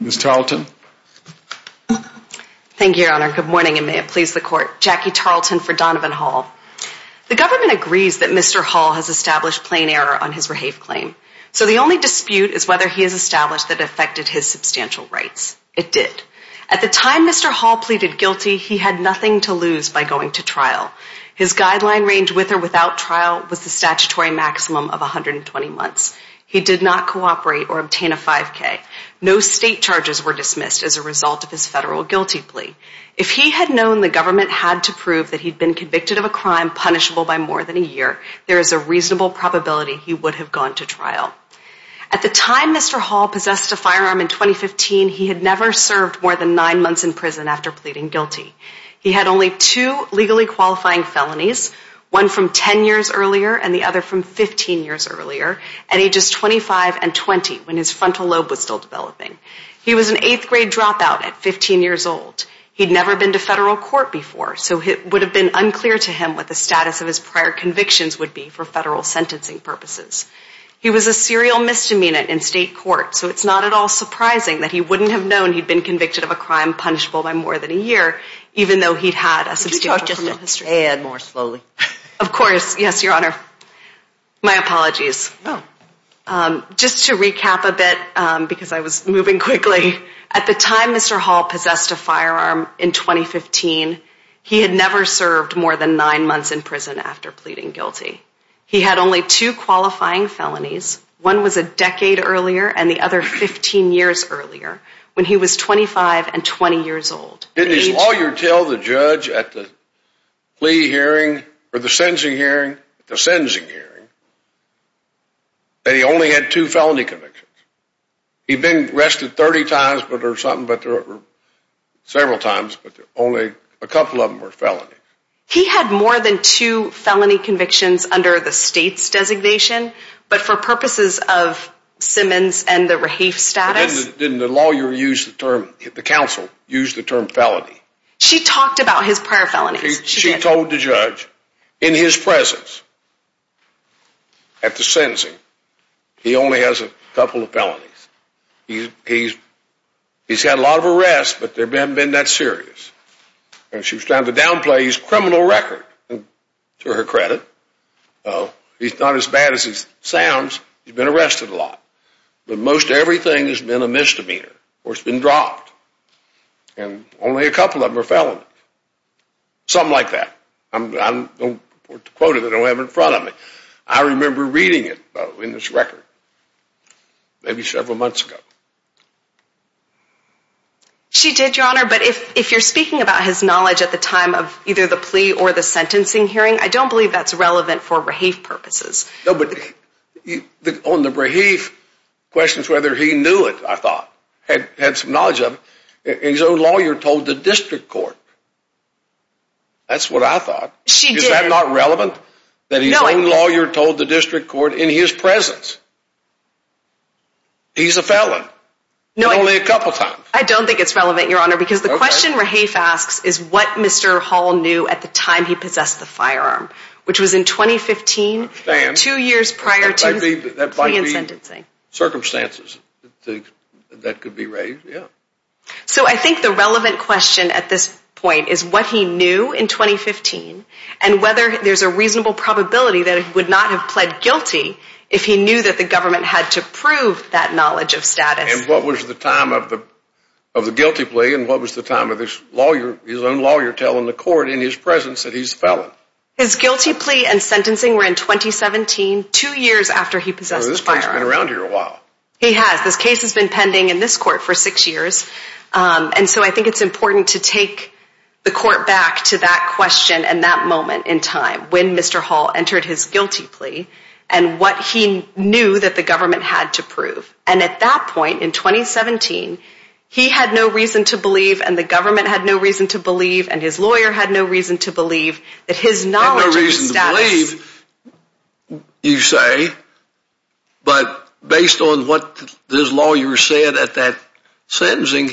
Jackie Tarleton for Donovan Hall The government agrees that Mr. Hall has established plain error on his reHAVE claim. So the only dispute is whether he has established that affected his substantial rights. It did. At the time Mr. Hall pleaded guilty, he had nothing to lose by going to trial. His guideline range with or without trial was the statutory maximum of 120 months. He did not cooperate or obtain a 5k. No state charges were dismissed as a result of his federal guilty plea. If he had known the government had to prove that he'd been convicted of a crime punishable by more than a year, there is a reasonable probability he would have gone to trial. At the time Mr. Hall possessed a firearm in 2015, he had never served more than nine months in prison after pleading guilty. He had only two legally qualifying felonies, one from 10 years earlier and the other from 15 years earlier at ages 25 and 20 when his frontal lobe was still developing. He was an eighth grade dropout at 15 years old. He'd never been to federal court before, so it would have been unclear to him what the status of his prior convictions would be for federal sentencing purposes. He was a serial misdemeanor in state court, so it's not at all surprising that he wouldn't have known he'd been convicted of a Of course, yes, your honor. My apologies. Just to recap a bit, because I was moving quickly, at the time Mr. Hall possessed a firearm in 2015, he had never served more than nine months in prison after pleading guilty. He had only two qualifying felonies, one was a decade earlier and the other 15 years earlier when he was 25 and 20 years old. Didn't his lawyer tell the judge at the plea hearing or the sentencing hearing, the sentencing hearing, that he only had two felony convictions? He'd been arrested 30 times or something, several times, but only a couple of them were felonies. He had more than two felony convictions under the state's designation, but for purposes of Simmons and the rehafe status. Didn't the lawyer use the term, the counsel, use the term felony? She talked about his prior felonies. She told the judge, in his presence, at the sentencing, he only has a couple of felonies. He's had a lot of arrests, but they haven't been that serious. She was trying to downplay his criminal record, to her credit. He's not as bad as he sounds, he's been arrested a lot, but most everything has been a misdemeanor or has been dropped and only a couple of them are felonies. Something like that. I don't want to quote it, I don't have it in front of me. I remember reading it in this record, maybe several months ago. She did, your honor, but if you're speaking about his knowledge at the time of either the plea or the sentencing hearing, I don't believe that's relevant for rehafe purposes. No, but on the rehafe questions, whether he knew it, I thought, had some knowledge of it, and his own lawyer told the district court. That's what I thought. Is that not relevant? That his own lawyer told the district court in his presence. He's a felon. I don't think it's relevant, your honor, because the question rehafe asks is what Mr. Hall knew at the time he possessed the firearm, which was in 2015, two years prior to the plea and sentencing. Circumstances that could be raised, yeah. So I think the relevant question at this point is what he knew in 2015 and whether there's a reasonable probability that he would not have pled guilty if he knew that the government had to prove that knowledge of status. And what was the time of the guilty plea and what was the time of his own lawyer telling the court in his presence that he's a felon? His guilty plea and sentencing were in 2017, two years after he possessed the firearm. He has. This case has been pending in this court for six years. And so I think it's important to take the court back to that question and that moment in time when Mr. Hall entered his guilty plea and what he knew that the government had to prove. And at that point in 2017, he had no reason to believe and the government had no reason to believe and his lawyer had no reason to believe that his knowledge of status. Had no reason to believe, you say, but based on what this lawyer said at that sentencing,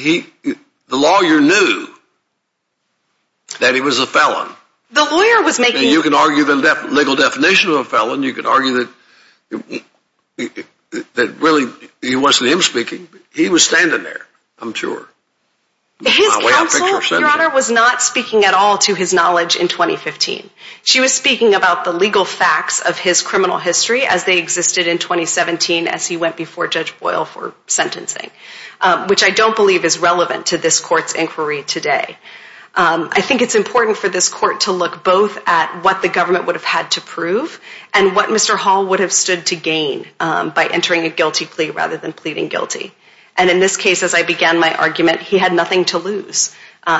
the lawyer knew that he was a felon. You can argue the legal definition of a felon. You can argue that really it wasn't him speaking. He was standing there, I'm sure. His counsel, Your Honor, was not speaking at all to his knowledge in 2015. She was speaking about the legal facts of his criminal history as they existed in 2017 as he went before Judge Boyle for sentencing, which I don't believe is relevant to this court's inquiry today. I think it's important for this court to look both at what the government would have had to prove and what Mr. Hall would have stood to gain by entering a guilty plea rather than pleading guilty. And in this case, as I began my argument, he had nothing to lose.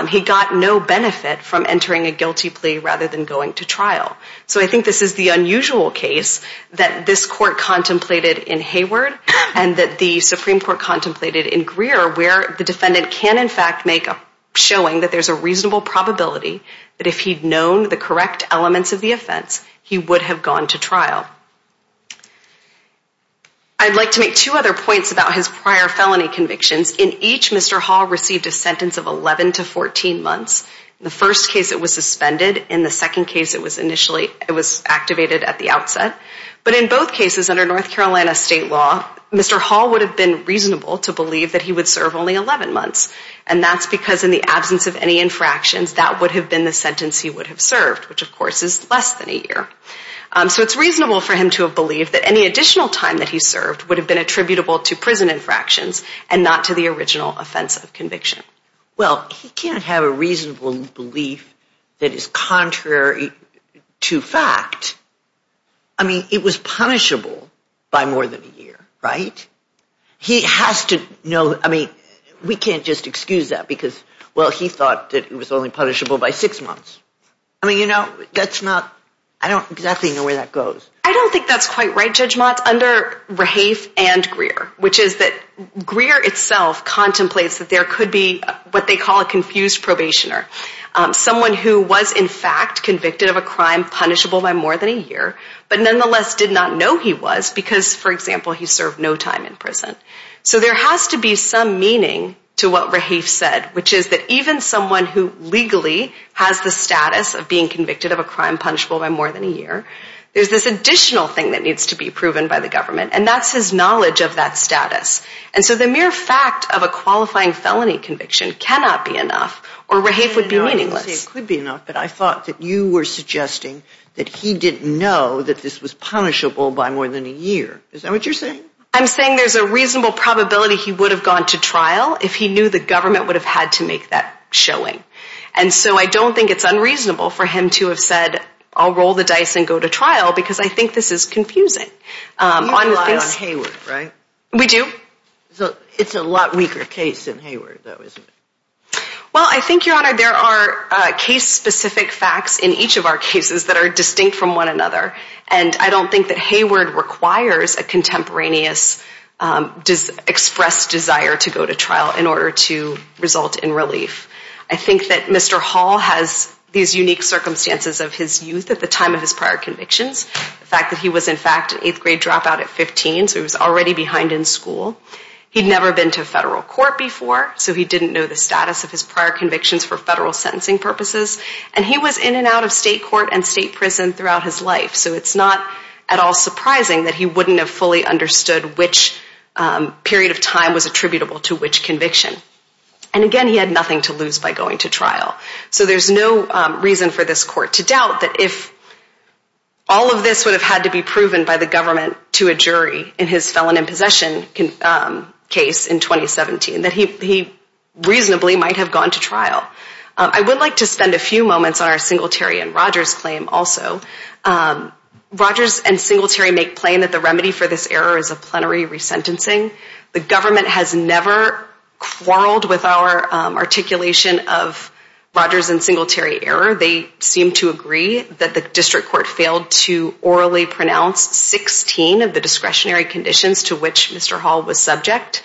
He got no benefit from entering a guilty plea rather than going to trial. So I think this is the unusual case that this court contemplated in Hayward and that the Supreme Court contemplated in Greer where the defendant can in fact make a showing that there's a reasonable probability that if he'd known the correct elements of the offense, he would have gone to trial. I'd like to make two other points about his prior felony convictions. In each, Mr. Hall received a sentence of 11 to 14 months. In the first case, it was suspended. In the second case, it was activated at the outset. But in both cases, under North Carolina state law, Mr. Hall would have been reasonable to believe that he would serve only 11 months. And that's because in the absence of any infractions, that would have been the sentence he would have served, which of course is less than a year. So it's reasonable for him to have believed that any additional time that he served would have been attributable to prison infractions and not to the original offense of conviction. Well, he can't have a reasonable belief that is contrary to fact. I mean, it was punishable by more than a year, right? He has to know, I mean, we can't just excuse that because, well, he thought that it was only punishable by six months. I mean, you know, that's not, I don't exactly know where that goes. I don't think that's quite right, Judge Motz, under Rahafe and Greer, which is that Greer itself contemplates that there could be what they call a confused probationer. Someone who was in fact convicted of a crime punishable by more than a year, but nonetheless did not know he was because, for example, he served no time in prison. So there has to be some meaning to what Rahafe said, which is that even someone who legally has the status of being convicted of a crime punishable by more than a year, there's this additional thing that needs to be proven by the government, and that's his knowledge of that status. And so the mere fact of a qualifying felony conviction cannot be enough, or Rahafe would be meaningless. It could be enough, but I thought that you were suggesting that he didn't know that this was punishable by more than a year. Is that what you're saying? I'm saying there's a reasonable probability he would have gone to trial if he knew the government would have had to make that showing. And so I don't think it's unreasonable for him to have said, I'll roll the dice and go to trial, because I think this is confusing. You rely on Hayward, right? We do. It's a lot weaker case than Hayward, though, isn't it? Well, I think, Your Honor, there are case-specific facts in each of our cases that are distinct from one another, and I don't think that Hayward requires a contemporaneous expressed desire to go to trial in order to result in relief. I think that Mr. Hall has these unique circumstances of his youth at the time of his prior convictions, the fact that he was, in fact, an eighth-grade dropout at 15, so he was already behind in school. He'd never been to federal court before, so he didn't know the status of his prior convictions for federal sentencing purposes. And he was in and out of state court and state prison throughout his life, so it's not at all surprising that he wouldn't have fully understood which period of time was attributable to which conviction. And again, he had nothing to lose by going to trial. So there's no reason for this Court to doubt that if all of this would have had to be proven by the government to a jury in his felon in possession case in 2017, that he reasonably might have gone to trial. I would like to spend a few moments on our Singletary and Rogers claim also. Rogers and Singletary make plain that the remedy for this error is a plenary resentencing. The government has never quarreled with our articulation of Rogers and Singletary error. They seem to agree that the district court failed to orally pronounce 16 of the discretionary conditions to which Mr. Hall was subject.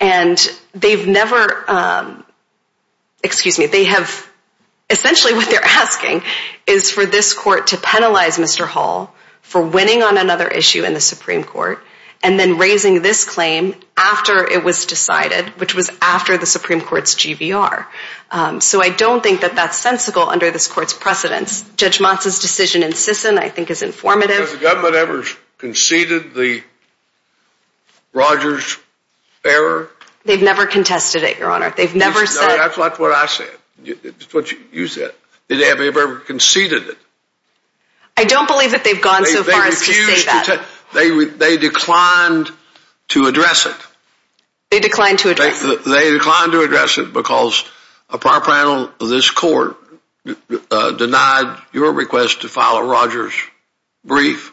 And they've never—excuse me, they have—essentially what they're asking is for this Court to penalize Mr. Hall for winning on another issue in the Supreme Court and then raising this claim after it was decided, which was after the Supreme Court's GVR. So I don't think that that's sensical under this Court's precedence. Judge Monson's decision in Sisson, I think, is informative. Has the government ever conceded the Rogers error? They've never contested it, Your Honor. They've never said— No, that's not what I said. It's what you said. Have they ever conceded it? I don't believe that they've gone so far as to say that. They refused to—they declined to address it. They declined to address it. They declined to address it because a prior panel of this Court denied your request to file a Rogers brief.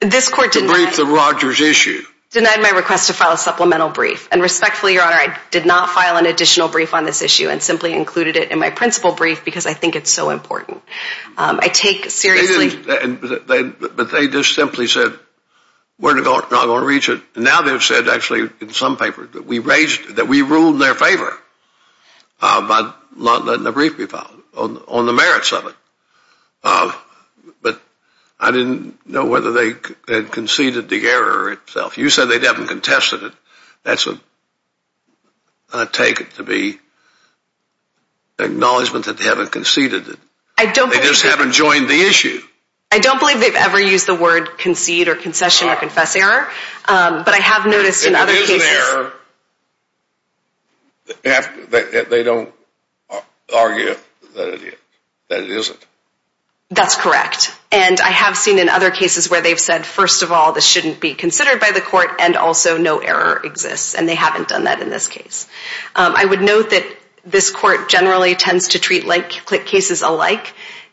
This Court did not— To brief the Rogers issue. Denied my request to file a supplemental brief. And respectfully, Your Honor, I did not file an additional brief on this issue and simply included it in my principal brief because I think it's so important. I take seriously— But they just simply said, we're not going to reach it. And now they've said, actually, in some papers, that we ruled in their favor by not letting a brief be filed on the merits of it. But I didn't know whether they had conceded the error itself. You said they'd haven't contested it. That's a—I take it to be acknowledgement that they haven't conceded it. They just haven't joined the issue. I don't believe they've ever used the word concede or concession or confess error. But I have noticed in other cases— If it is an error, they don't argue that it isn't. That's correct. And I have seen in other cases where they've said, first of all, this shouldn't be considered by the Court, and also no error exists. And they haven't done that in this case. I would note that this Court generally tends to treat like-click cases alike.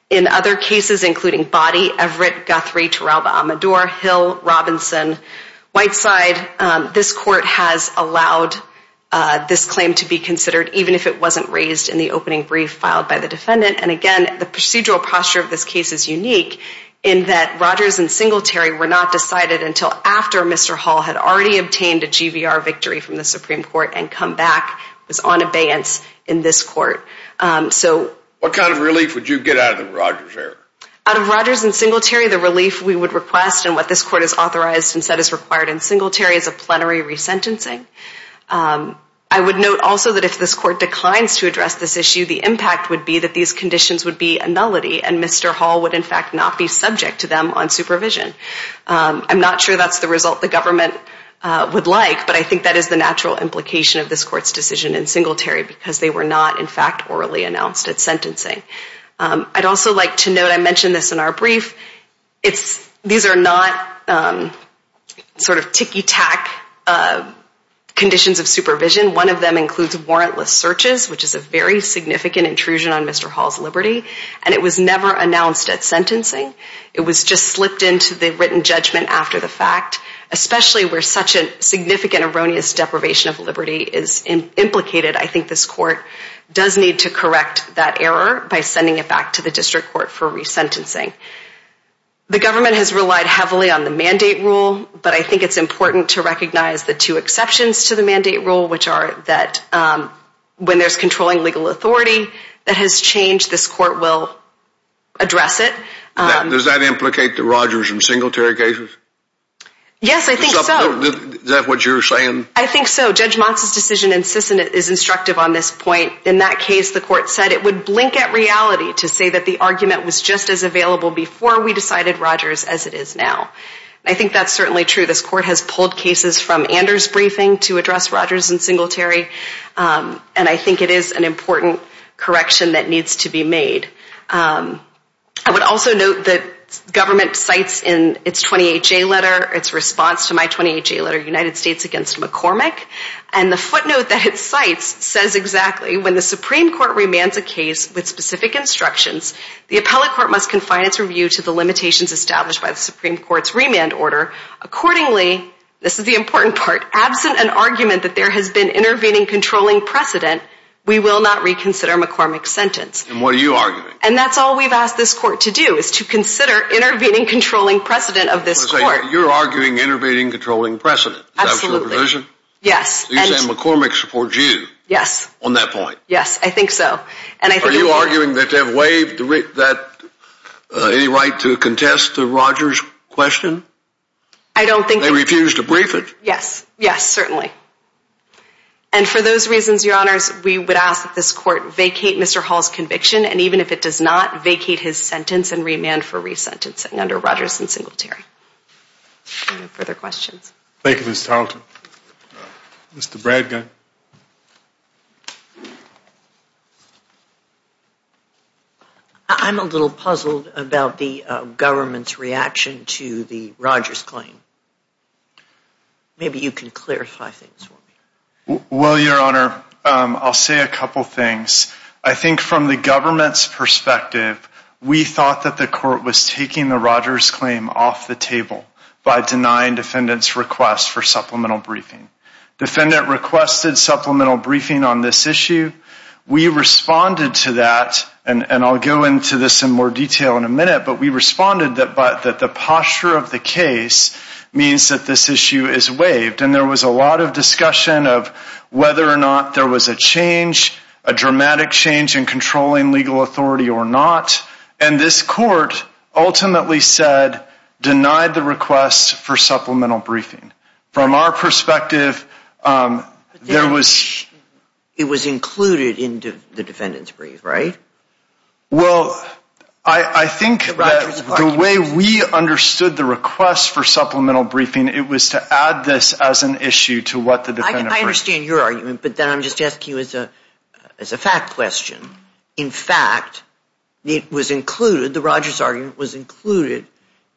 In other cases, including Boddy, Everett, Guthrie, Turalba, Amador, Hill, Robinson, Whiteside, this Court has allowed this claim to be considered, even if it wasn't raised in the opening brief filed by the defendant. And, again, the procedural posture of this case is unique in that Rogers and Singletary were not decided until after Mr. Hall had already obtained a GVR victory from the Supreme Court and come back was on abeyance in this Court. What kind of relief would you get out of the Rogers error? Out of Rogers and Singletary, the relief we would request and what this Court has authorized and said is required in Singletary is a plenary resentencing. I would note also that if this Court declines to address this issue, the impact would be that these conditions would be a nullity and Mr. Hall would, in fact, not be subject to them on supervision. I'm not sure that's the result the government would like, but I think that is the natural implication of this Court's decision in Singletary because they were not, in fact, orally announced at sentencing. I'd also like to note, I mentioned this in our brief, these are not sort of ticky-tack conditions of supervision. One of them includes warrantless searches, which is a very significant intrusion on Mr. Hall's liberty, and it was never announced at sentencing. It was just slipped into the written judgment after the fact, especially where such a significant erroneous deprivation of liberty is implicated. I think this Court does need to correct that error by sending it back to the District Court for resentencing. The government has relied heavily on the mandate rule, but I think it's important to recognize the two exceptions to the mandate rule, which are that when there's controlling legal authority that has changed, this Court will address it. Does that implicate the Rogers in Singletary cases? Yes, I think so. Is that what you're saying? I think so. Judge Motz's decision in Sisson is instructive on this point. In that case, the Court said it would blink at reality to say that the argument was just as available before we decided Rogers as it is now. I think that's certainly true. This Court has pulled cases from Anders' briefing to address Rogers in Singletary, and I think it is an important correction that needs to be made. I would also note that government cites in its 28-J letter, its response to my 28-J letter, United States against McCormick, and the footnote that it cites says exactly, when the Supreme Court remands a case with specific instructions, the appellate court must confine its review to the limitations established by the Supreme Court's remand order. Accordingly, this is the important part, absent an argument that there has been intervening controlling precedent, we will not reconsider McCormick's sentence. And what are you arguing? And that's all we've asked this Court to do, is to consider intervening controlling precedent of this Court. You're arguing intervening controlling precedent. Absolutely. Is that your provision? Yes. So you're saying McCormick supports you? Yes. On that point? Yes, I think so. Are you arguing that they've waived any right to contest the Rogers question? I don't think... They refused to brief it? Yes, yes, certainly. And for those reasons, Your Honors, we would ask that this Court vacate Mr. Hall's conviction, and even if it does not, vacate his sentence and remand for re-sentencing under Rogers and Singletary. Any further questions? Thank you, Ms. Tarleton. Mr. Bradgun. I'm a little puzzled about the government's reaction to the Rogers claim. Maybe you can clarify things for me. Well, Your Honor, I'll say a couple things. I think from the government's perspective, we thought that the Court was taking the Rogers claim off the table by denying defendants' request for supplemental briefing. Defendant requested supplemental briefing on this issue. We responded to that, and I'll go into this in more detail in a minute, but we responded that the posture of the case means that this issue is waived, and there was a lot of discussion of whether or not there was a change, a dramatic change in controlling legal authority or not, and this Court ultimately said, denied the request for supplemental briefing. From our perspective, there was... It was included in the defendant's brief, right? Well, I think that the way we understood the request for supplemental briefing, it was to add this as an issue to what the defendant... I understand your argument, but then I'm just asking you as a fact question. In fact, it was included, the Rogers argument was included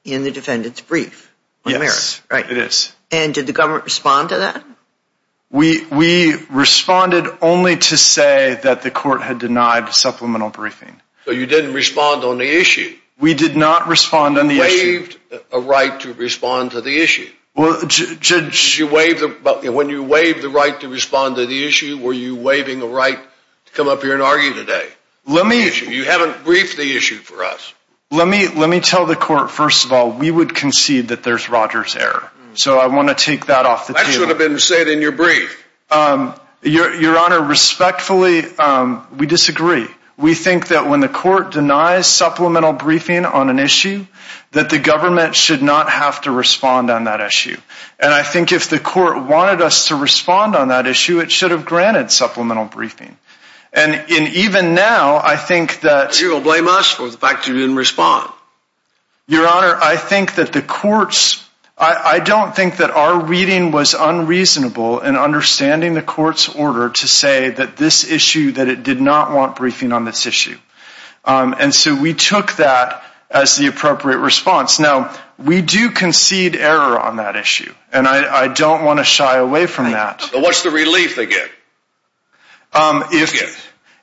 in the defendant's brief. Yes, it is. And did the government respond to that? We responded only to say that the Court had denied supplemental briefing. So you didn't respond on the issue. We did not respond on the issue. You waived a right to respond to the issue. When you waived the right to respond to the issue, were you waiving a right to come up here and argue today? You haven't briefed the issue for us. Let me tell the Court, first of all, we would concede that there's Rogers' error. So I want to take that off the table. That should have been said in your brief. Your Honor, respectfully, we disagree. We think that when the Court denies supplemental briefing on an issue, that the government should not have to respond on that issue. And I think if the Court wanted us to respond on that issue, it should have granted supplemental briefing. And even now, I think that... You will blame us for the fact that you didn't respond. Your Honor, I think that the Court's... I don't think that our reading was unreasonable in understanding the Court's order And so we took that as the appropriate response. Now, we do concede error on that issue. And I don't want to shy away from that. What's the relief they get?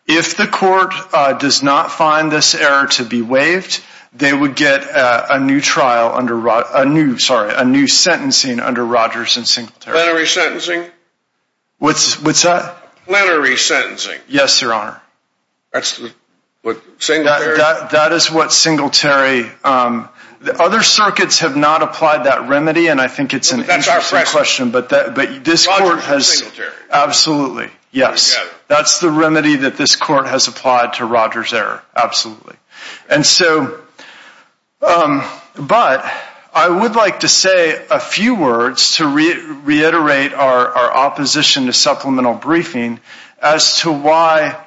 If the Court does not find this error to be waived, they would get a new trial under... Sorry, a new sentencing under Rogers and Singletary. Plenary sentencing? What's that? Plenary sentencing. Yes, Your Honor. That's what Singletary... That is what Singletary... Other circuits have not applied that remedy, and I think it's an interesting question. That's our question. But this Court has... Rogers and Singletary. Absolutely, yes. That's the remedy that this Court has applied to Rogers' error. Absolutely. And so... But I would like to say a few words to reiterate our opposition to supplemental briefing as to why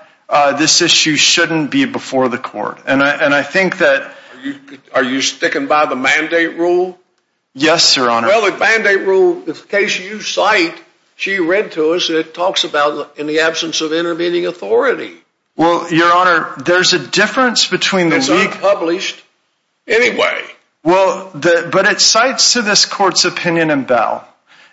this issue shouldn't be before the Court. And I think that... Are you sticking by the mandate rule? Yes, Your Honor. Well, the mandate rule, if the case you cite, she read to us, it talks about in the absence of intervening authority. Well, Your Honor, there's a difference between the... It's unpublished anyway. Well, but it cites to this Court's opinion in Bell.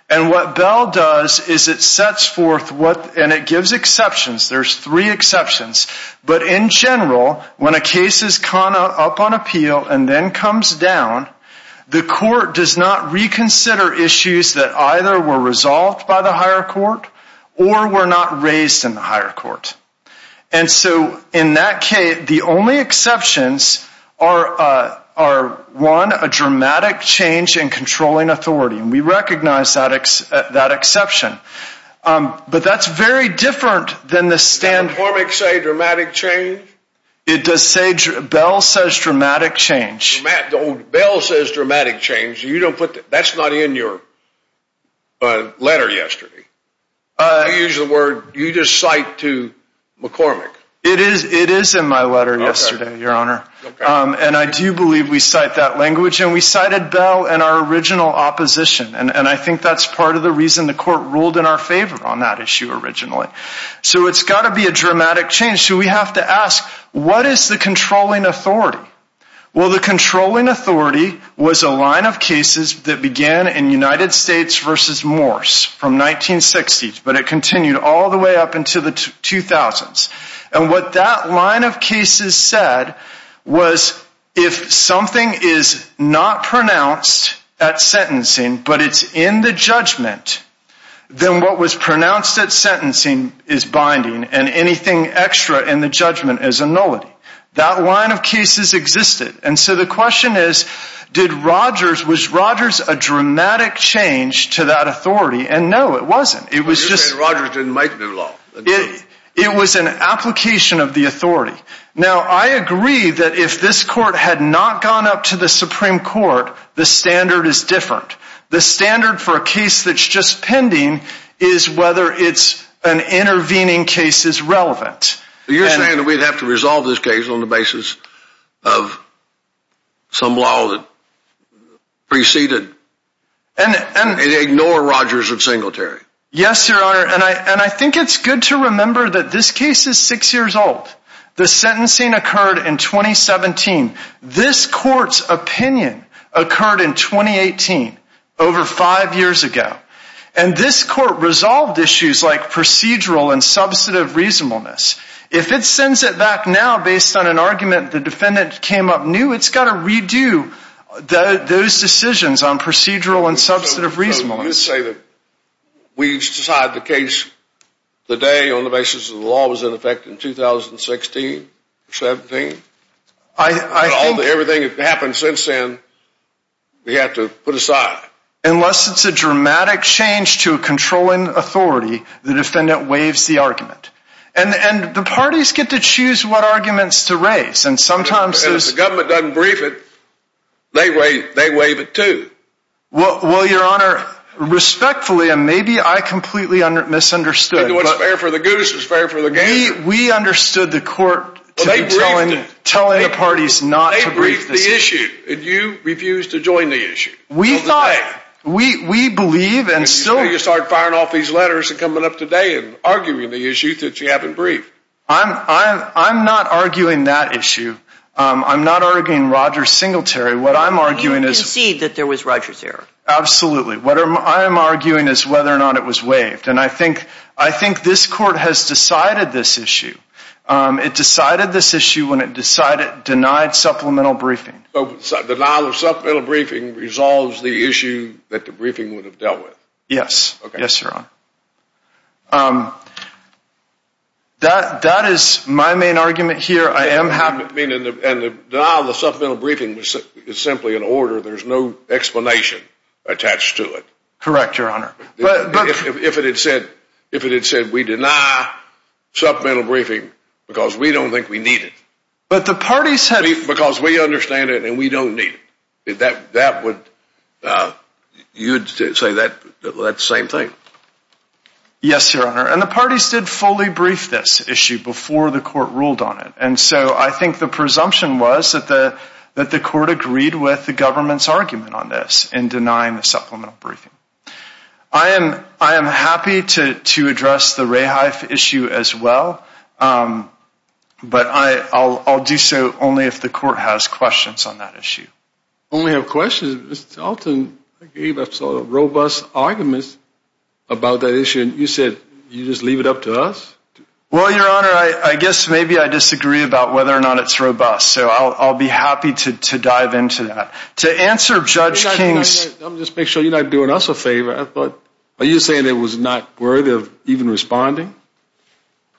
And what Bell does is it sets forth what... And it gives exceptions. There's three exceptions. But in general, when a case is caught up on appeal and then comes down, the Court does not reconsider issues that either were resolved by the higher court or were not raised in the higher court. And so in that case, the only exceptions are, one, a dramatic change in controlling authority. And we recognize that exception. But that's very different than the standard... Did McCormick say dramatic change? It does say... Bell says dramatic change. Bell says dramatic change. You don't put... That's not in your letter yesterday. You use the word... You just cite to McCormick. It is in my letter yesterday, Your Honor. And I do believe we cite that language. And we cited Bell and our original opposition. And I think that's part of the reason the Court ruled in our favor on that issue originally. So it's got to be a dramatic change. So we have to ask, what is the controlling authority? Well, the controlling authority was a line of cases that began in United States versus Morse from 1960s, but it continued all the way up until the 2000s. And what that line of cases said was, if something is not pronounced at sentencing, but it's in the judgment, then what was pronounced at sentencing is binding, and anything extra in the judgment is a nullity. That line of cases existed. And so the question is, did Rogers... Was Rogers a dramatic change to that authority? And no, it wasn't. It was just... You're saying Rogers didn't make new law. It was an application of the authority. Now, I agree that if this Court had not gone up to the Supreme Court, the standard is different. The standard for a case that's just pending is whether it's an intervening case is relevant. You're saying that we'd have to resolve this case on the basis of some law that preceded... And ignore Rogers of Singletary. Yes, Your Honor, and I think it's good to remember that this case is six years old. The sentencing occurred in 2017. This Court's opinion occurred in 2018, over five years ago. And this Court resolved issues like procedural and substantive reasonableness. If it sends it back now based on an argument the defendant came up new, it's got to redo those decisions on procedural and substantive reasonableness. You're saying that we've decided the case today on the basis of the law was in effect in 2016, 17? I think... Everything that's happened since then, we have to put aside. Unless it's a dramatic change to a controlling authority, the defendant waives the argument. And the parties get to choose what arguments to raise, and sometimes there's... And if the government doesn't brief it, they waive it too. Well, Your Honor, respectfully, and maybe I completely misunderstood... It's fair for the goose, it's fair for the game. We understood the Court telling the parties not to brief this case. They briefed the issue, and you refused to join the issue. We thought... We believe and still... And you started firing off these letters and coming up today and arguing the issue that you haven't briefed. I'm not arguing that issue. I'm not arguing Rogers Singletary. What I'm arguing is... You concede that there was Rogers there. Absolutely. What I'm arguing is whether or not it was waived. And I think this Court has decided this issue. It decided this issue when it denied supplemental briefing. Denial of supplemental briefing resolves the issue that the briefing would have dealt with? Yes. Okay. Yes, Your Honor. That is my main argument here. Denial of the supplemental briefing is simply an order. There's no explanation attached to it. Correct, Your Honor. If it had said, we deny supplemental briefing because we don't think we need it. But the parties had... Because we understand it and we don't need it. That would... You'd say that's the same thing? Yes, Your Honor. And the parties did fully brief this issue before the Court ruled on it. And so I think the presumption was that the Court agreed with the government's argument on this in denying the supplemental briefing. I am happy to address the Rahife issue as well. But I'll do so only if the Court has questions on that issue. Only have questions? Mr. Alton gave a robust argument about that issue. You said you'd just leave it up to us? Well, Your Honor, I guess maybe I disagree about whether or not it's robust. So I'll be happy to dive into that. To answer Judge King's... Let me just make sure you're not doing us a favor. Are you saying it was not worthy of even responding?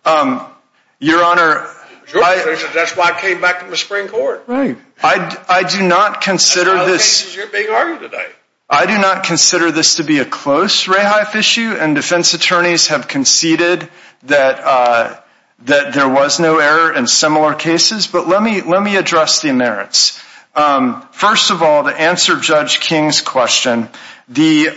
Your Honor... That's why I came back to the Supreme Court. Right. I do not consider this... That's why the case is your big argument tonight. I do not consider this to be a close Rahife issue. And defense attorneys have conceded that there was no error in similar cases. But let me address the merits. First of all, to answer Judge King's question, the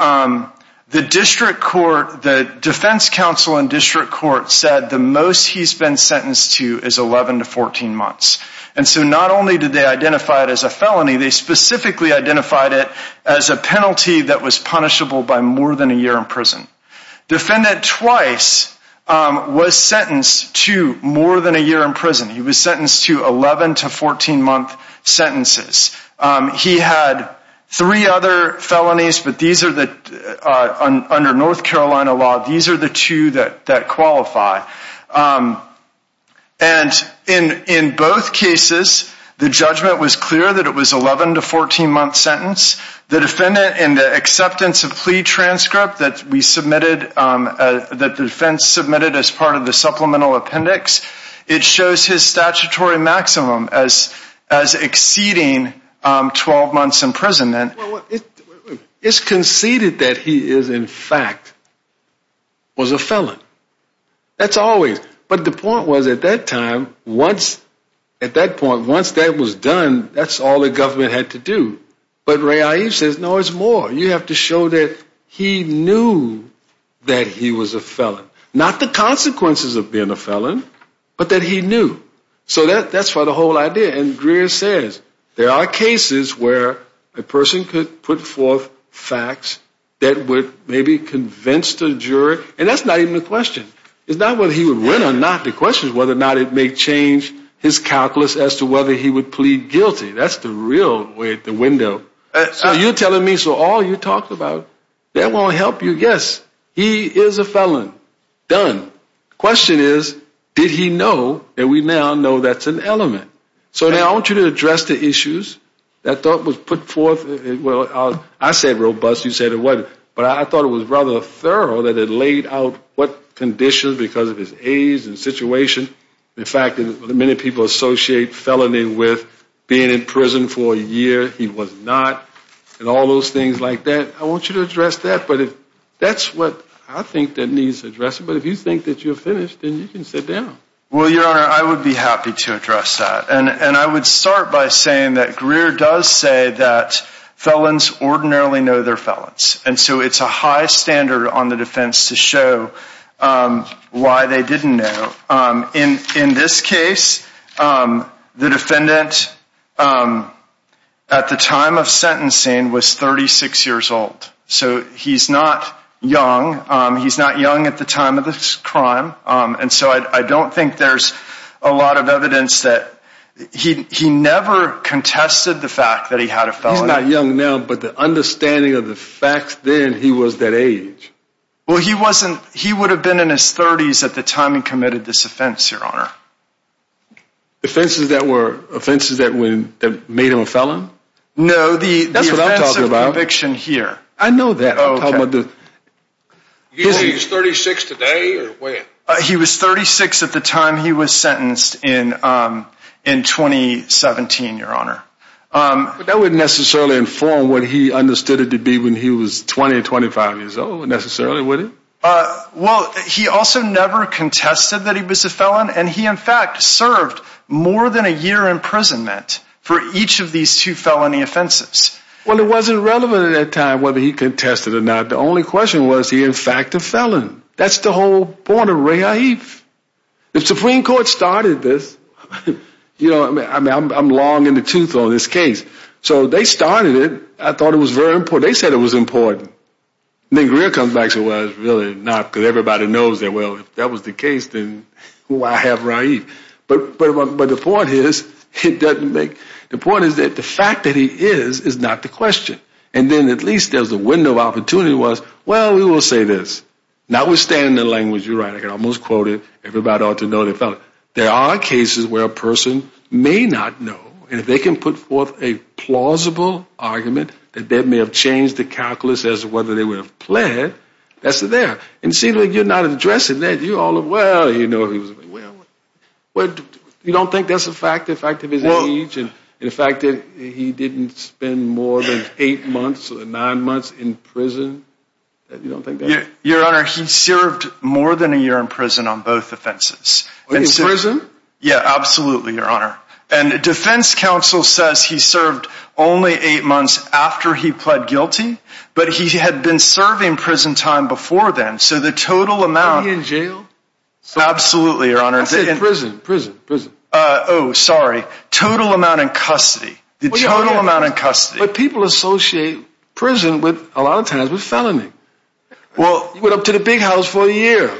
district court, the defense counsel in district court said the most he's been sentenced to is 11 to 14 months. And so not only did they identify it as a felony, they specifically identified it as a penalty that was punishable by more than a year in prison. Defendant Twice was sentenced to more than a year in prison. He was sentenced to 11 to 14-month sentences. He had three other felonies, but these are the... Under North Carolina law, these are the two that qualify. And in both cases, the judgment was clear that it was 11 to 14-month sentence. The defendant in the acceptance of plea transcript that we submitted, that the defense submitted as part of the supplemental appendix, it shows his statutory maximum as exceeding 12 months in prison. It's conceded that he is in fact was a felon. That's always... But the point was at that time, once... At that point, once that was done, that's all the government had to do. But Ray Ives says, no, it's more. You have to show that he knew that he was a felon. Not the consequences of being a felon, but that he knew. So that's for the whole idea. There are cases where a person could put forth facts that would maybe convince the jury. And that's not even a question. It's not whether he would win or not. The question is whether or not it may change his calculus as to whether he would plead guilty. That's the real way, the window. So you're telling me, so all you talked about, that won't help you. Yes, he is a felon. Done. Question is, did he know that we now know that's an element? So now I want you to address the issues that was put forth. Well, I said robust. You said it wasn't. But I thought it was rather thorough that it laid out what conditions because of his age and situation. In fact, many people associate felony with being in prison for a year. He was not. And all those things like that. I want you to address that. But that's what I think that needs addressing. But if you think that you're finished, then you can sit down. Well, Your Honor, I would be happy to address that. And I would start by saying that Greer does say that felons ordinarily know they're felons. And so it's a high standard on the defense to show why they didn't know. In this case, the defendant at the time of sentencing was 36 years old. So he's not young. He's not young at the time of this crime. And so I don't think there's a lot of evidence that he never contested the fact that he had a felon. He's not young now. But the understanding of the facts then, he was that age. Well, he wasn't. He would have been in his 30s at the time he committed this offense, Your Honor. Offenses that were offenses that made him a felon? No. That's what I'm talking about. The offense of conviction here. I know that. He was 36 today or when? He was 36 at the time he was sentenced in 2017, Your Honor. But that wouldn't necessarily inform what he understood it to be when he was 20 or 25 years old necessarily, would it? Well, he also never contested that he was a felon. And he, in fact, served more than a year imprisonment for each of these two felony offenses. Well, it wasn't relevant at that time whether he contested it or not. The only question was he, in fact, a felon. That's the whole point of Raif. If Supreme Court started this, you know, I'm long in the tooth on this case. So they started it. I thought it was very important. They said it was important. And then Greer comes back and says, well, it's really not because everybody knows that. Well, if that was the case, then why have Raif? But the point is it doesn't make, the point is that the fact that he is is not the question. And then at least there's a window of opportunity was, well, we will say this. Notwithstanding the language you write, I can almost quote it. Everybody ought to know they're a felon. There are cases where a person may not know. And if they can put forth a plausible argument that that may have changed the calculus as to whether they would have pled, that's there. And it seems like you're not addressing that. Well, you don't think that's a fact, the fact of his age and the fact that he didn't spend more than eight months or nine months in prison? You don't think that? Your Honor, he served more than a year in prison on both offenses. In prison? Yeah, absolutely, Your Honor. And defense counsel says he served only eight months after he pled guilty, but he had been serving prison time before then. So the total amount. Was he in jail? Absolutely, Your Honor. I said prison, prison, prison. Oh, sorry. Total amount in custody. The total amount in custody. But people associate prison with, a lot of times, with felony. Well, he went up to the big house for a year.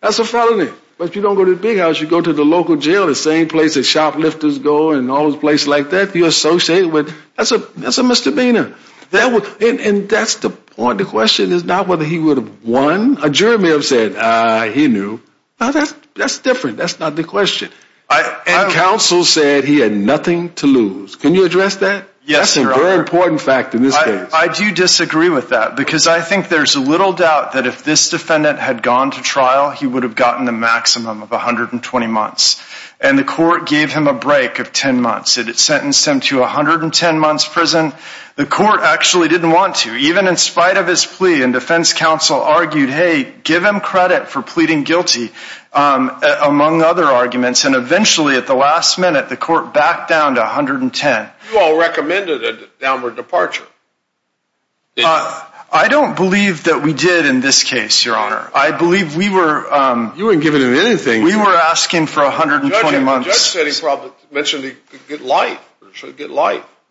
That's a felony. But you don't go to the big house, you go to the local jail, the same place that shoplifters go and all those places like that. You associate with, that's a misdemeanor. And that's the point. The question is not whether he would have won. A jury may have said, he knew. That's different. That's not the question. And counsel said he had nothing to lose. Can you address that? Yes, Your Honor. That's a very important fact in this case. I do disagree with that because I think there's little doubt that if this defendant had gone to trial, he would have gotten a maximum of 120 months. And the court gave him a break of 10 months. It sentenced him to 110 months prison. The court actually didn't want to, even in spite of his plea. And defense counsel argued, hey, give him credit for pleading guilty, among other arguments. And eventually, at the last minute, the court backed down to 110. You all recommended a downward departure. I don't believe that we did in this case, Your Honor. I believe we were... You weren't giving him anything. We were asking for 120 months. The judge said he probably mentioned he could get life.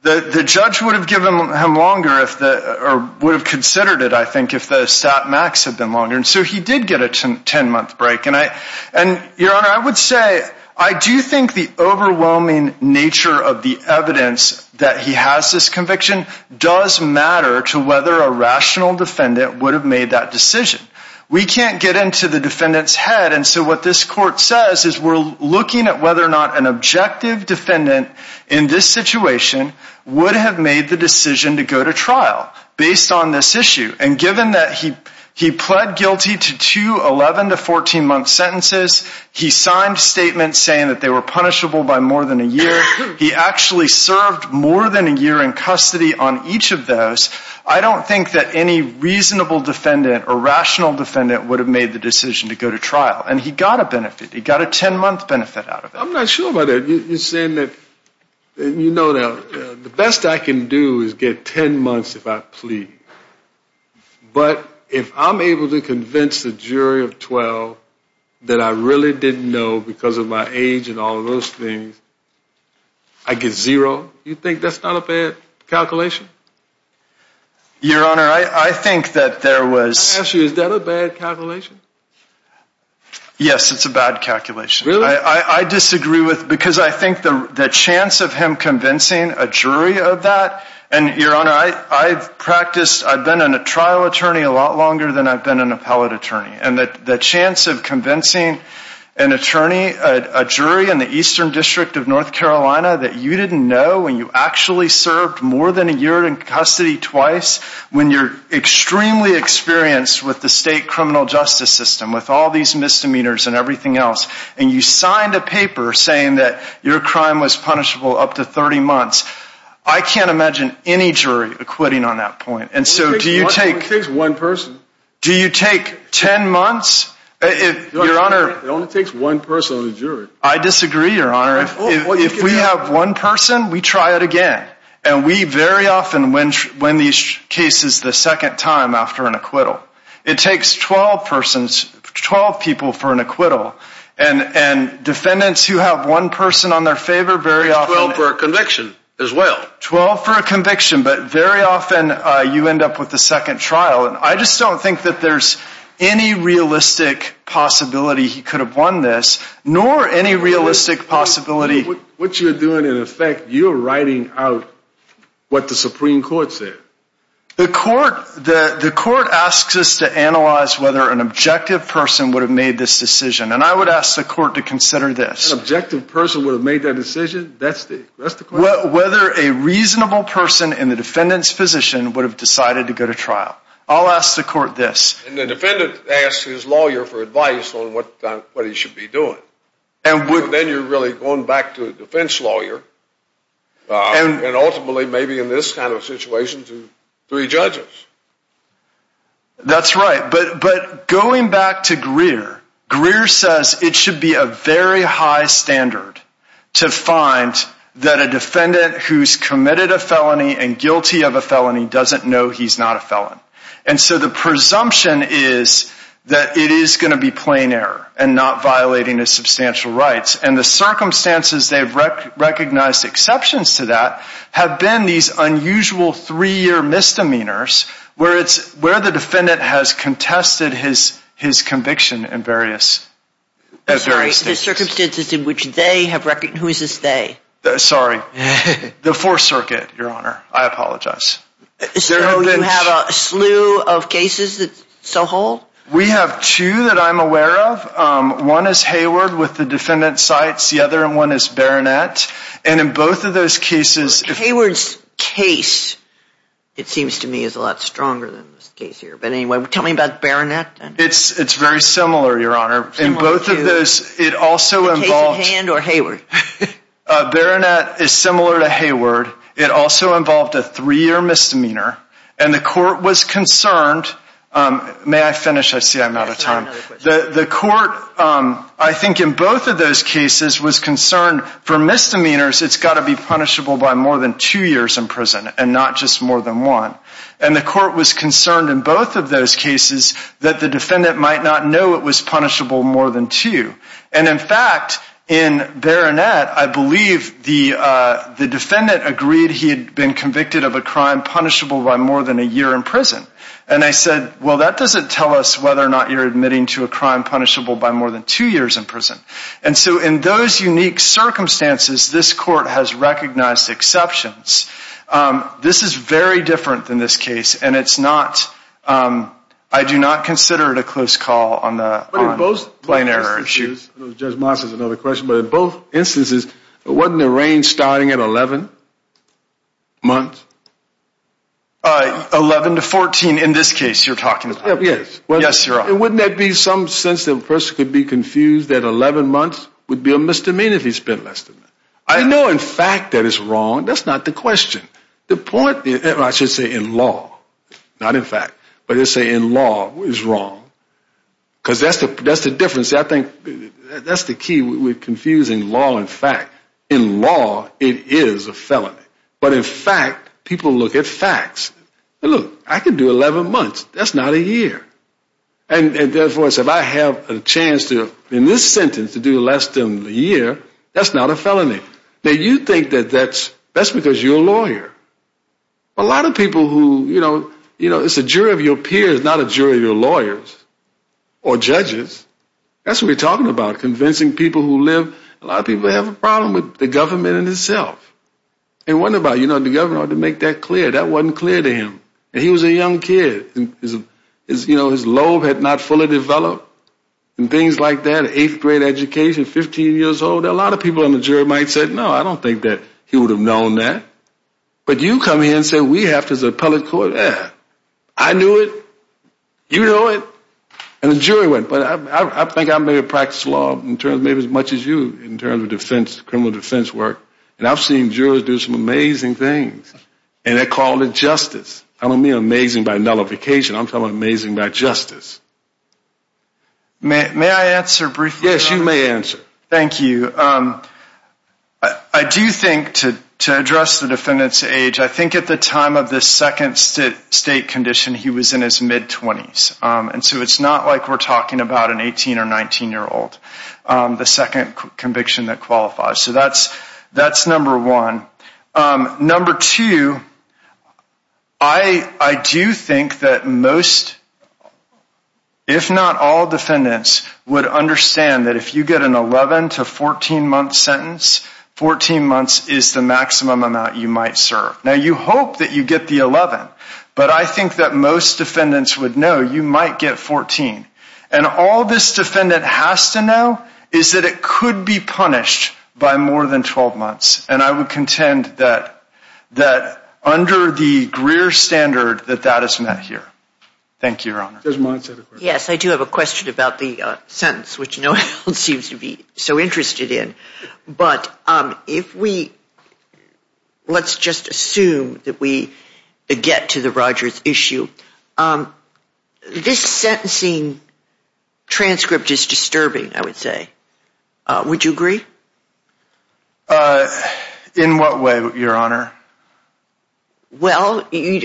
The judge would have given him longer or would have considered it, I think, if the stat max had been longer. And so he did get a 10-month break. And, Your Honor, I would say I do think the overwhelming nature of the evidence that he has this conviction does matter to whether a rational defendant would have made that decision. We can't get into the defendant's head. And so what this court says is we're looking at whether or not an objective defendant in this situation would have made the decision to go to trial based on this issue. And given that he pled guilty to two 11- to 14-month sentences, he signed statements saying that they were punishable by more than a year. He actually served more than a year in custody on each of those. I don't think that any reasonable defendant or rational defendant would have made the decision to go to trial. And he got a benefit. He got a 10-month benefit out of it. I'm not sure about that. You're saying that, you know, the best I can do is get 10 months if I plead. But if I'm able to convince the jury of 12 that I really didn't know because of my age and all of those things, I get zero? You think that's not a bad calculation? Your Honor, I think that there was... Let me ask you, is that a bad calculation? Yes, it's a bad calculation. Really? I disagree with it because I think the chance of him convincing a jury of that... And, Your Honor, I've practiced, I've been a trial attorney a lot longer than I've been an appellate attorney. And the chance of convincing an attorney, a jury in the Eastern District of North Carolina that you didn't know when you actually served more than a year in custody twice, when you're extremely experienced with the state criminal justice system, with all these misdemeanors and everything else, and you signed a paper saying that your crime was punishable up to 30 months, I can't imagine any jury acquitting on that point. And so do you take... It takes one person. Do you take 10 months? Your Honor... It only takes one person on a jury. I disagree, Your Honor. If we have one person, we try it again. And we very often win these cases the second time after an acquittal. It takes 12 people for an acquittal. And defendants who have one person on their favor very often... 12 for a conviction as well. 12 for a conviction, but very often you end up with a second trial. And I just don't think that there's any realistic possibility he could have won this, nor any realistic possibility... What you're doing, in effect, you're writing out what the Supreme Court said. The court asks us to analyze whether an objective person would have made this decision. And I would ask the court to consider this. An objective person would have made that decision? That's the question. Whether a reasonable person in the defendant's position would have decided to go to trial. I'll ask the court this. And the defendant asks his lawyer for advice on what he should be doing. And then you're really going back to a defense lawyer. And ultimately, maybe in this kind of situation, to three judges. That's right. But going back to Greer, Greer says it should be a very high standard to find that a defendant who's committed a felony and guilty of a felony doesn't know he's not a felon. And so the presumption is that it is going to be plain error and not violating his substantial rights. And the circumstances they've recognized exceptions to that have been these unusual three-year misdemeanors where the defendant has contested his conviction in various cases. Who is this they? Sorry. The Fourth Circuit, Your Honor. I apologize. So you have a slew of cases that so hold? We have two that I'm aware of. One is Hayward with the defendant's sites. The other one is Baronet. And in both of those cases... Hayward's case, it seems to me, is a lot stronger than this case here. But anyway, tell me about Baronet. It's very similar, Your Honor. In both of those, it also involved... The case at hand or Hayward? Baronet is similar to Hayward. It also involved a three-year misdemeanor. And the court was concerned... May I finish? I see I'm out of time. The court, I think, in both of those cases was concerned for misdemeanors, it's got to be punishable by more than two years in prison and not just more than one. And the court was concerned in both of those cases that the defendant might not know it was punishable more than two. And in fact, in Baronet, I believe the defendant agreed he had been convicted of a crime punishable by more than a year in prison. And I said, well, that doesn't tell us whether or not you're admitting to a crime punishable by more than two years in prison. And so in those unique circumstances, this court has recognized exceptions. This is very different than this case, and it's not... I do not consider it a close call on the plain error issue. Judge Moss has another question. But in both instances, wasn't the range starting at 11 months? 11 to 14 in this case you're talking about? Yes. Yes, Your Honor. Wouldn't that be some sense that a person could be confused that 11 months would be a misdemeanor if he spent less than that? I know in fact that it's wrong. That's not the question. The point, I should say in law, not in fact, but let's say in law it's wrong because that's the difference. I think that's the key with confusing law and fact. In law, it is a felony. But in fact, people look at facts. Look, I can do 11 months. That's not a year. And therefore, if I have a chance in this sentence to do less than a year, that's not a felony. Now, you think that that's because you're a lawyer. A lot of people who, you know, it's a jury of your peers, not a jury of your lawyers or judges. That's what we're talking about, convincing people who live. A lot of people have a problem with the government in itself. It wasn't about the government ought to make that clear. That wasn't clear to him. He was a young kid. His lobe had not fully developed and things like that, eighth grade education, 15 years old. A lot of people on the jury might have said, no, I don't think that he would have known that. But you come here and say we have to as an appellate court. Yeah, I knew it. You know it. And the jury went, but I think I may have practiced law in terms, maybe as much as you, in terms of defense, criminal defense work. And I've seen jurors do some amazing things. And they call it justice. I don't mean amazing by nullification. I'm talking about amazing by justice. May I answer briefly? Yes, you may answer. Thank you. I do think to address the defendant's age, I think at the time of the second state condition, he was in his mid-20s. And so it's not like we're talking about an 18 or 19-year-old, the second conviction that qualifies. So that's number one. Number two, I do think that most, if not all, defendants would understand that if you get an 11 to 14-month sentence, 14 months is the maximum amount you might serve. Now, you hope that you get the 11. But I think that most defendants would know you might get 14. And all this defendant has to know is that it could be punished by more than 12 months. And I would contend that under the Greer standard that that is met here. Thank you, Your Honor. Yes, I do have a question about the sentence, which no one seems to be so interested in. But let's just assume that we get to the Rogers issue. This sentencing transcript is disturbing, I would say. Would you agree? In what way, Your Honor? Well, I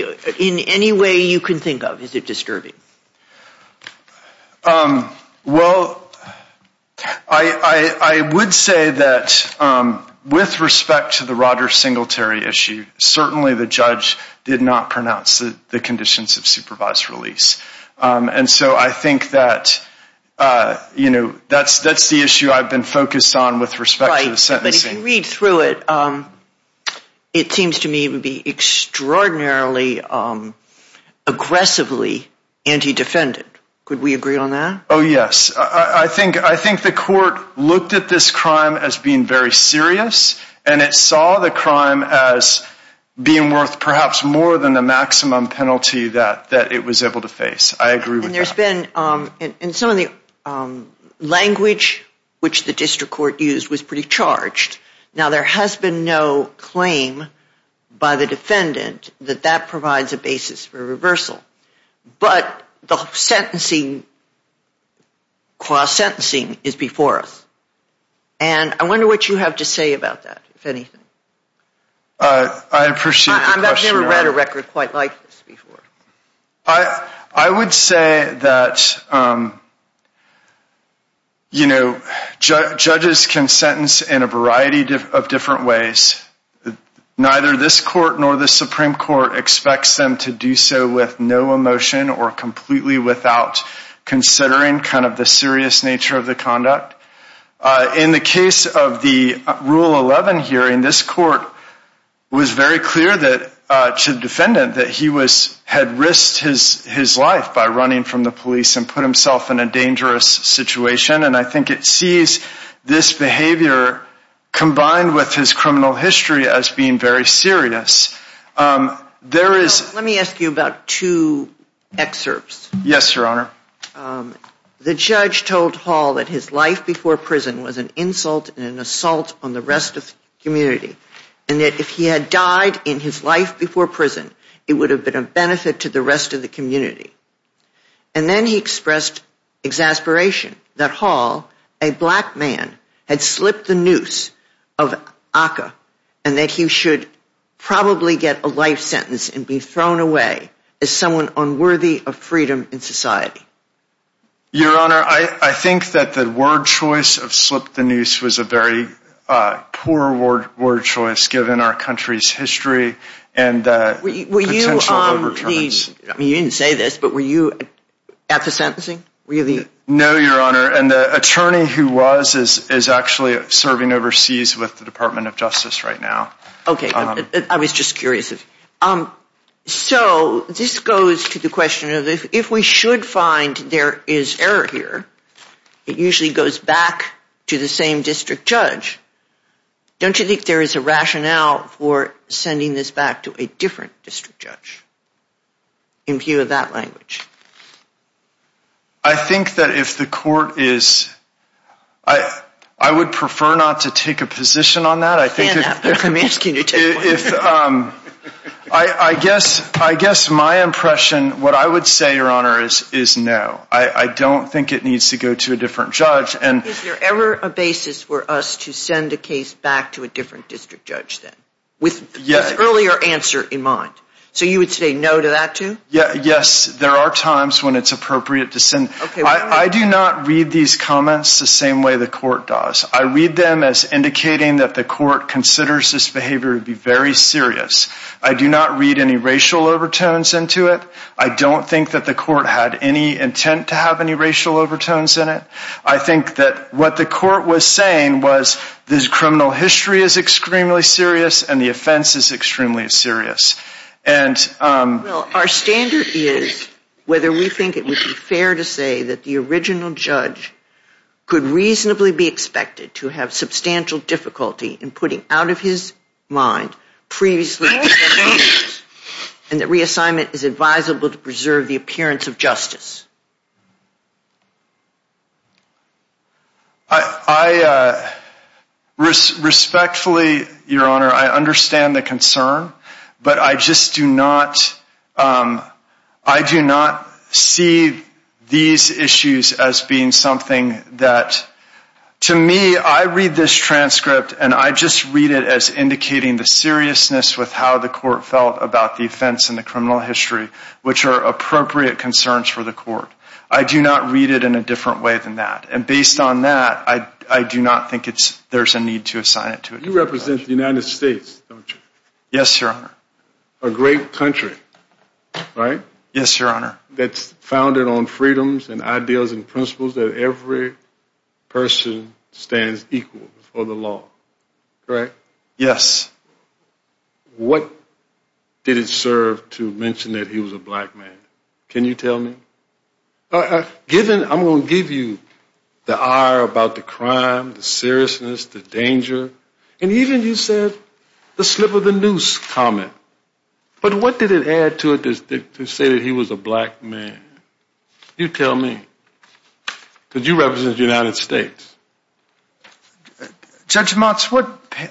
would say that with respect to the Rogers Singletary issue, certainly the judge did not pronounce the conditions of supervised release. And so I think that, you know, that's the issue I've been focused on with respect to the sentencing. Right, but if you read through it, it seems to me it would be extraordinarily aggressively anti-defendant. Could we agree on that? Oh, yes. I think the court looked at this crime as being very serious, and it saw the crime as being worth perhaps more than the maximum penalty that it was able to face. I agree with that. And some of the language which the district court used was pretty charged. Now, there has been no claim by the defendant that that provides a basis for reversal. But the sentencing, cross-sentencing is before us. And I wonder what you have to say about that, if anything. I appreciate the question. I've never read a record quite like this before. I would say that, you know, judges can sentence in a variety of different ways. Neither this court nor the Supreme Court expects them to do so with no emotion or completely without considering kind of the serious nature of the conduct. In the case of the Rule 11 hearing, this court was very clear to the defendant that he had risked his life by running from the police and put himself in a dangerous situation. And I think it sees this behavior combined with his criminal history as being very serious. Let me ask you about two excerpts. Yes, Your Honor. The judge told Hall that his life before prison was an insult and an assault on the rest of the community. And that if he had died in his life before prison, it would have been a benefit to the rest of the community. And then he expressed exasperation that Hall, a black man, had slipped the noose of ACCA and that he should probably get a life sentence and be thrown away as someone unworthy of freedom in society. Your Honor, I think that the word choice of slip the noose was a very poor word choice given our country's history and potential overturns. You didn't say this, but were you at the sentencing? No, Your Honor, and the attorney who was is actually serving overseas with the Department of Justice right now. Okay, I was just curious. So this goes to the question of if we should find there is error here, it usually goes back to the same district judge. Don't you think there is a rationale for sending this back to a different district judge in view of that language? I think that if the court is, I would prefer not to take a position on that. I'm asking you to take one. I guess my impression, what I would say, Your Honor, is no. I don't think it needs to go to a different judge. Is there ever a basis for us to send a case back to a different district judge then with earlier answer in mind? So you would say no to that too? Yes, there are times when it's appropriate to send. I do not read these comments the same way the court does. I read them as indicating that the court considers this behavior to be very serious. I do not read any racial overtones into it. I don't think that the court had any intent to have any racial overtones in it. I think that what the court was saying was this criminal history is extremely serious and the offense is extremely serious. Well, our standard is whether we think it would be fair to say that the original judge could reasonably be expected to have substantial difficulty in putting out of his mind previously made decisions and that reassignment is advisable to preserve the appearance of justice. Respectfully, Your Honor, I understand the concern, but I just do not see these issues as being something that, to me, I read this transcript and I just read it as indicating the seriousness with how the court felt about the offense and the criminal history, which are appropriate concerns for the court. I do not read it in a different way than that. And based on that, I do not think there's a need to assign it to a judge. You represent the United States, don't you? Yes, Your Honor. A great country, right? Yes, Your Honor. That's founded on freedoms and ideals and principles that every person stands equal for the law, correct? Yes. What did it serve to mention that he was a black man? Can you tell me? I'm going to give you the ire about the crime, the seriousness, the danger, and even you said the slip of the noose comment. But what did it add to it to say that he was a black man? You tell me, because you represent the United States. Judge Motz,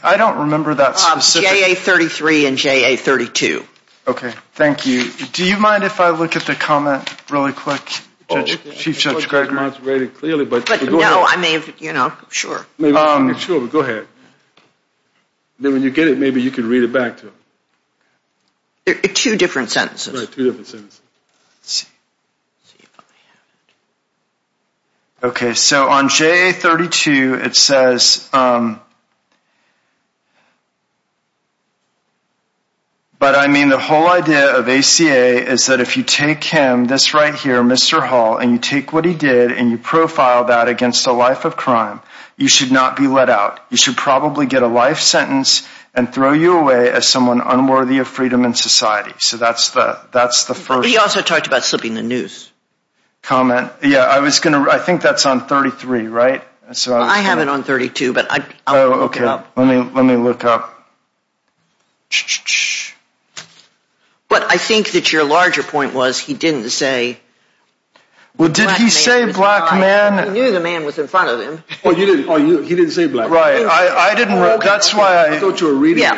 I don't remember that specific. JA-33 and JA-32. Okay, thank you. Do you mind if I look at the comment really quick? Chief Judge Greg Motz read it clearly, but go ahead. No, I mean, you know, sure. Sure, but go ahead. Then when you get it, maybe you can read it back to him. Two different sentences. Right, two different sentences. Let's see. Okay, so on JA-32 it says, but I mean the whole idea of ACA is that if you take him, this right here, Mr. Hall, and you take what he did and you profile that against a life of crime, you should not be let out. You should probably get a life sentence and throw you away as someone unworthy of freedom in society. So that's the first. He also talked about slipping the noose. Comment. Yeah, I think that's on 33, right? I have it on 32, but I'll look it up. Okay, let me look up. But I think that your larger point was he didn't say. Well, did he say black man? He knew the man was in front of him. He didn't say black man. Right. I didn't. That's why I. I thought you were reading it.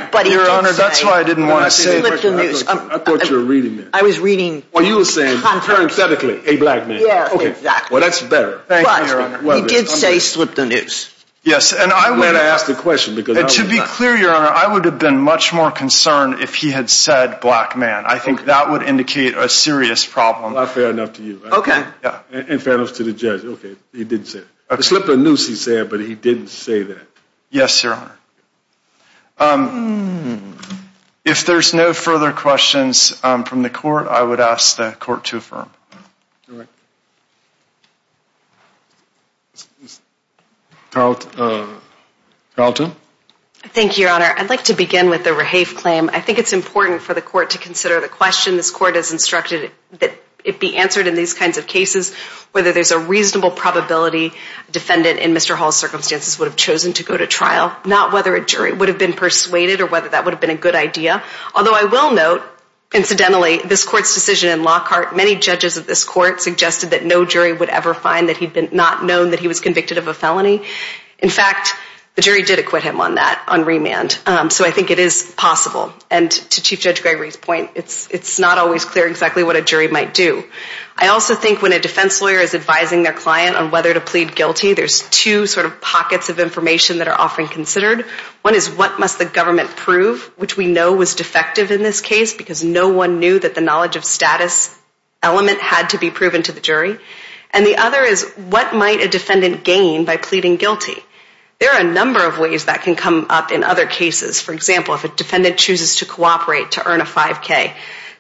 I was reading. Well, you were saying parenthetically a black man. Yeah, exactly. Well, that's better. Thank you, Your Honor. He did say slip the noose. Yes, and I. I'm glad I asked the question because. To be clear, Your Honor, I would have been much more concerned if he had said black man. I think that would indicate a serious problem. Well, fair enough to you. Okay. And fair enough to the judge. Okay. He didn't say. Slip the noose, he said, but he didn't say that. Yes, Your Honor. If there's no further questions from the court, I would ask the court to affirm. All right. Carlton. Carlton. Thank you, Your Honor. I'd like to begin with the Rahafe claim. I think it's important for the court to consider the question. This court has instructed that it be answered in these kinds of cases whether there's a reasonable probability a defendant in Mr. Hall's circumstances would have chosen to go to trial, not whether a jury would have been persuaded or whether that would have been a good idea. Although I will note, incidentally, this court's decision in Lockhart, many judges of this court suggested that no jury would ever find that he'd not known that he was convicted of a felony. In fact, the jury did acquit him on that, on remand. So I think it is possible. And to Chief Judge Gregory's point, it's not always clear exactly what a jury might do. I also think when a defense lawyer is advising their client on whether to plead guilty, there's two sort of pockets of information that are often considered. One is what must the government prove, which we know was defective in this case because no one knew that the knowledge of status element had to be proven to the jury. And the other is what might a defendant gain by pleading guilty. There are a number of ways that can come up in other cases. For example, if a defendant chooses to cooperate to earn a 5K,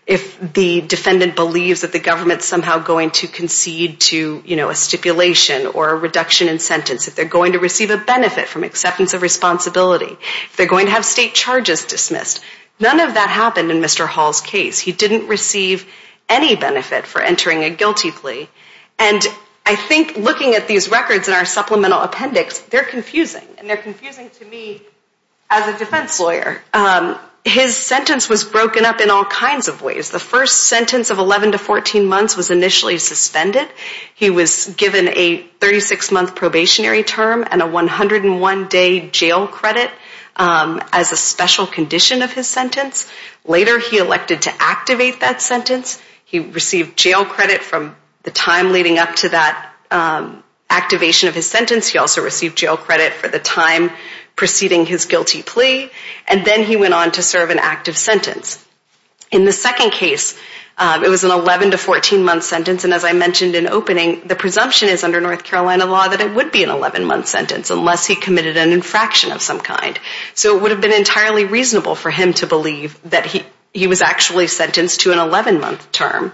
if the defendant believes that the government is somehow going to concede to a stipulation or a reduction in sentence, if they're going to receive a benefit from acceptance of responsibility, if they're going to have state charges dismissed. None of that happened in Mr. Hall's case. He didn't receive any benefit for entering a guilty plea. And I think looking at these records in our supplemental appendix, they're confusing. And they're confusing to me as a defense lawyer. His sentence was broken up in all kinds of ways. The first sentence of 11 to 14 months was initially suspended. He was given a 36-month probationary term and a 101-day jail credit as a special condition of his sentence. Later, he elected to activate that sentence. He received jail credit from the time leading up to that activation of his sentence. He also received jail credit for the time preceding his guilty plea. And then he went on to serve an active sentence. In the second case, it was an 11 to 14-month sentence. And as I mentioned in opening, the presumption is under North Carolina law that it would be an 11-month sentence unless he committed an infraction of some kind. So it would have been entirely reasonable for him to believe that he was actually sentenced to an 11-month term.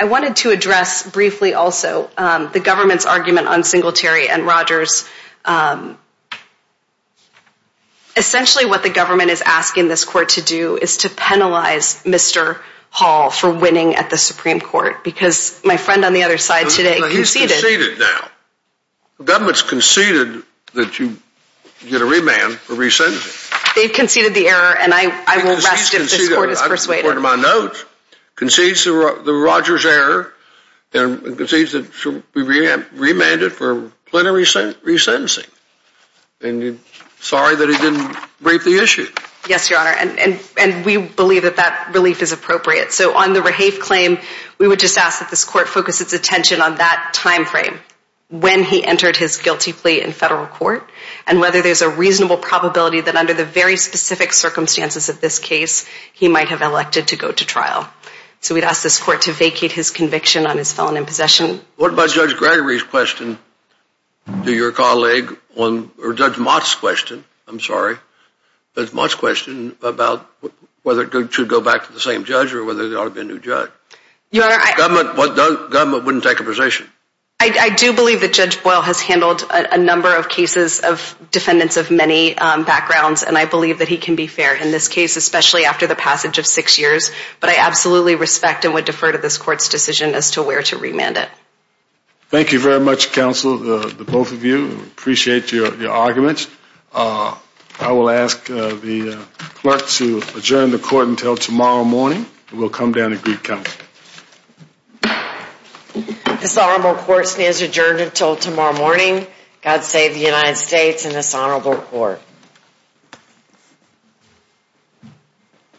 I wanted to address briefly also the government's argument on Singletary and Rogers. Essentially what the government is asking this court to do is to penalize Mr. Hall for winning at the Supreme Court because my friend on the other side today conceded. He's conceded now. The government's conceded that you get a remand for rescinding him. They've conceded the error, and I will rest if this court is persuaded. Concedes the Rogers error and concedes that he should be remanded for plenary re-sentencing. And sorry that he didn't brief the issue. Yes, Your Honor, and we believe that that relief is appropriate. So on the Rahafe claim, we would just ask that this court focus its attention on that time frame when he entered his guilty plea in federal court and whether there's a reasonable probability that under the very specific circumstances of this case, he might have elected to go to trial. So we'd ask this court to vacate his conviction on his felon in possession. What about Judge Gregory's question to your colleague or Judge Mott's question? I'm sorry, Judge Mott's question about whether it should go back to the same judge or whether there ought to be a new judge. Your Honor, I... The government wouldn't take a position. I do believe that Judge Boyle has handled a number of cases of defendants of many backgrounds, and I believe that he can be fair in this case, especially after the passage of six years. But I absolutely respect and would defer to this court's decision as to where to remand it. Thank you very much, counsel, the both of you. Appreciate your arguments. I will ask the clerk to adjourn the court until tomorrow morning. We'll come down to Greek County. This honorable court stands adjourned until tomorrow morning. God save the United States and this honorable court.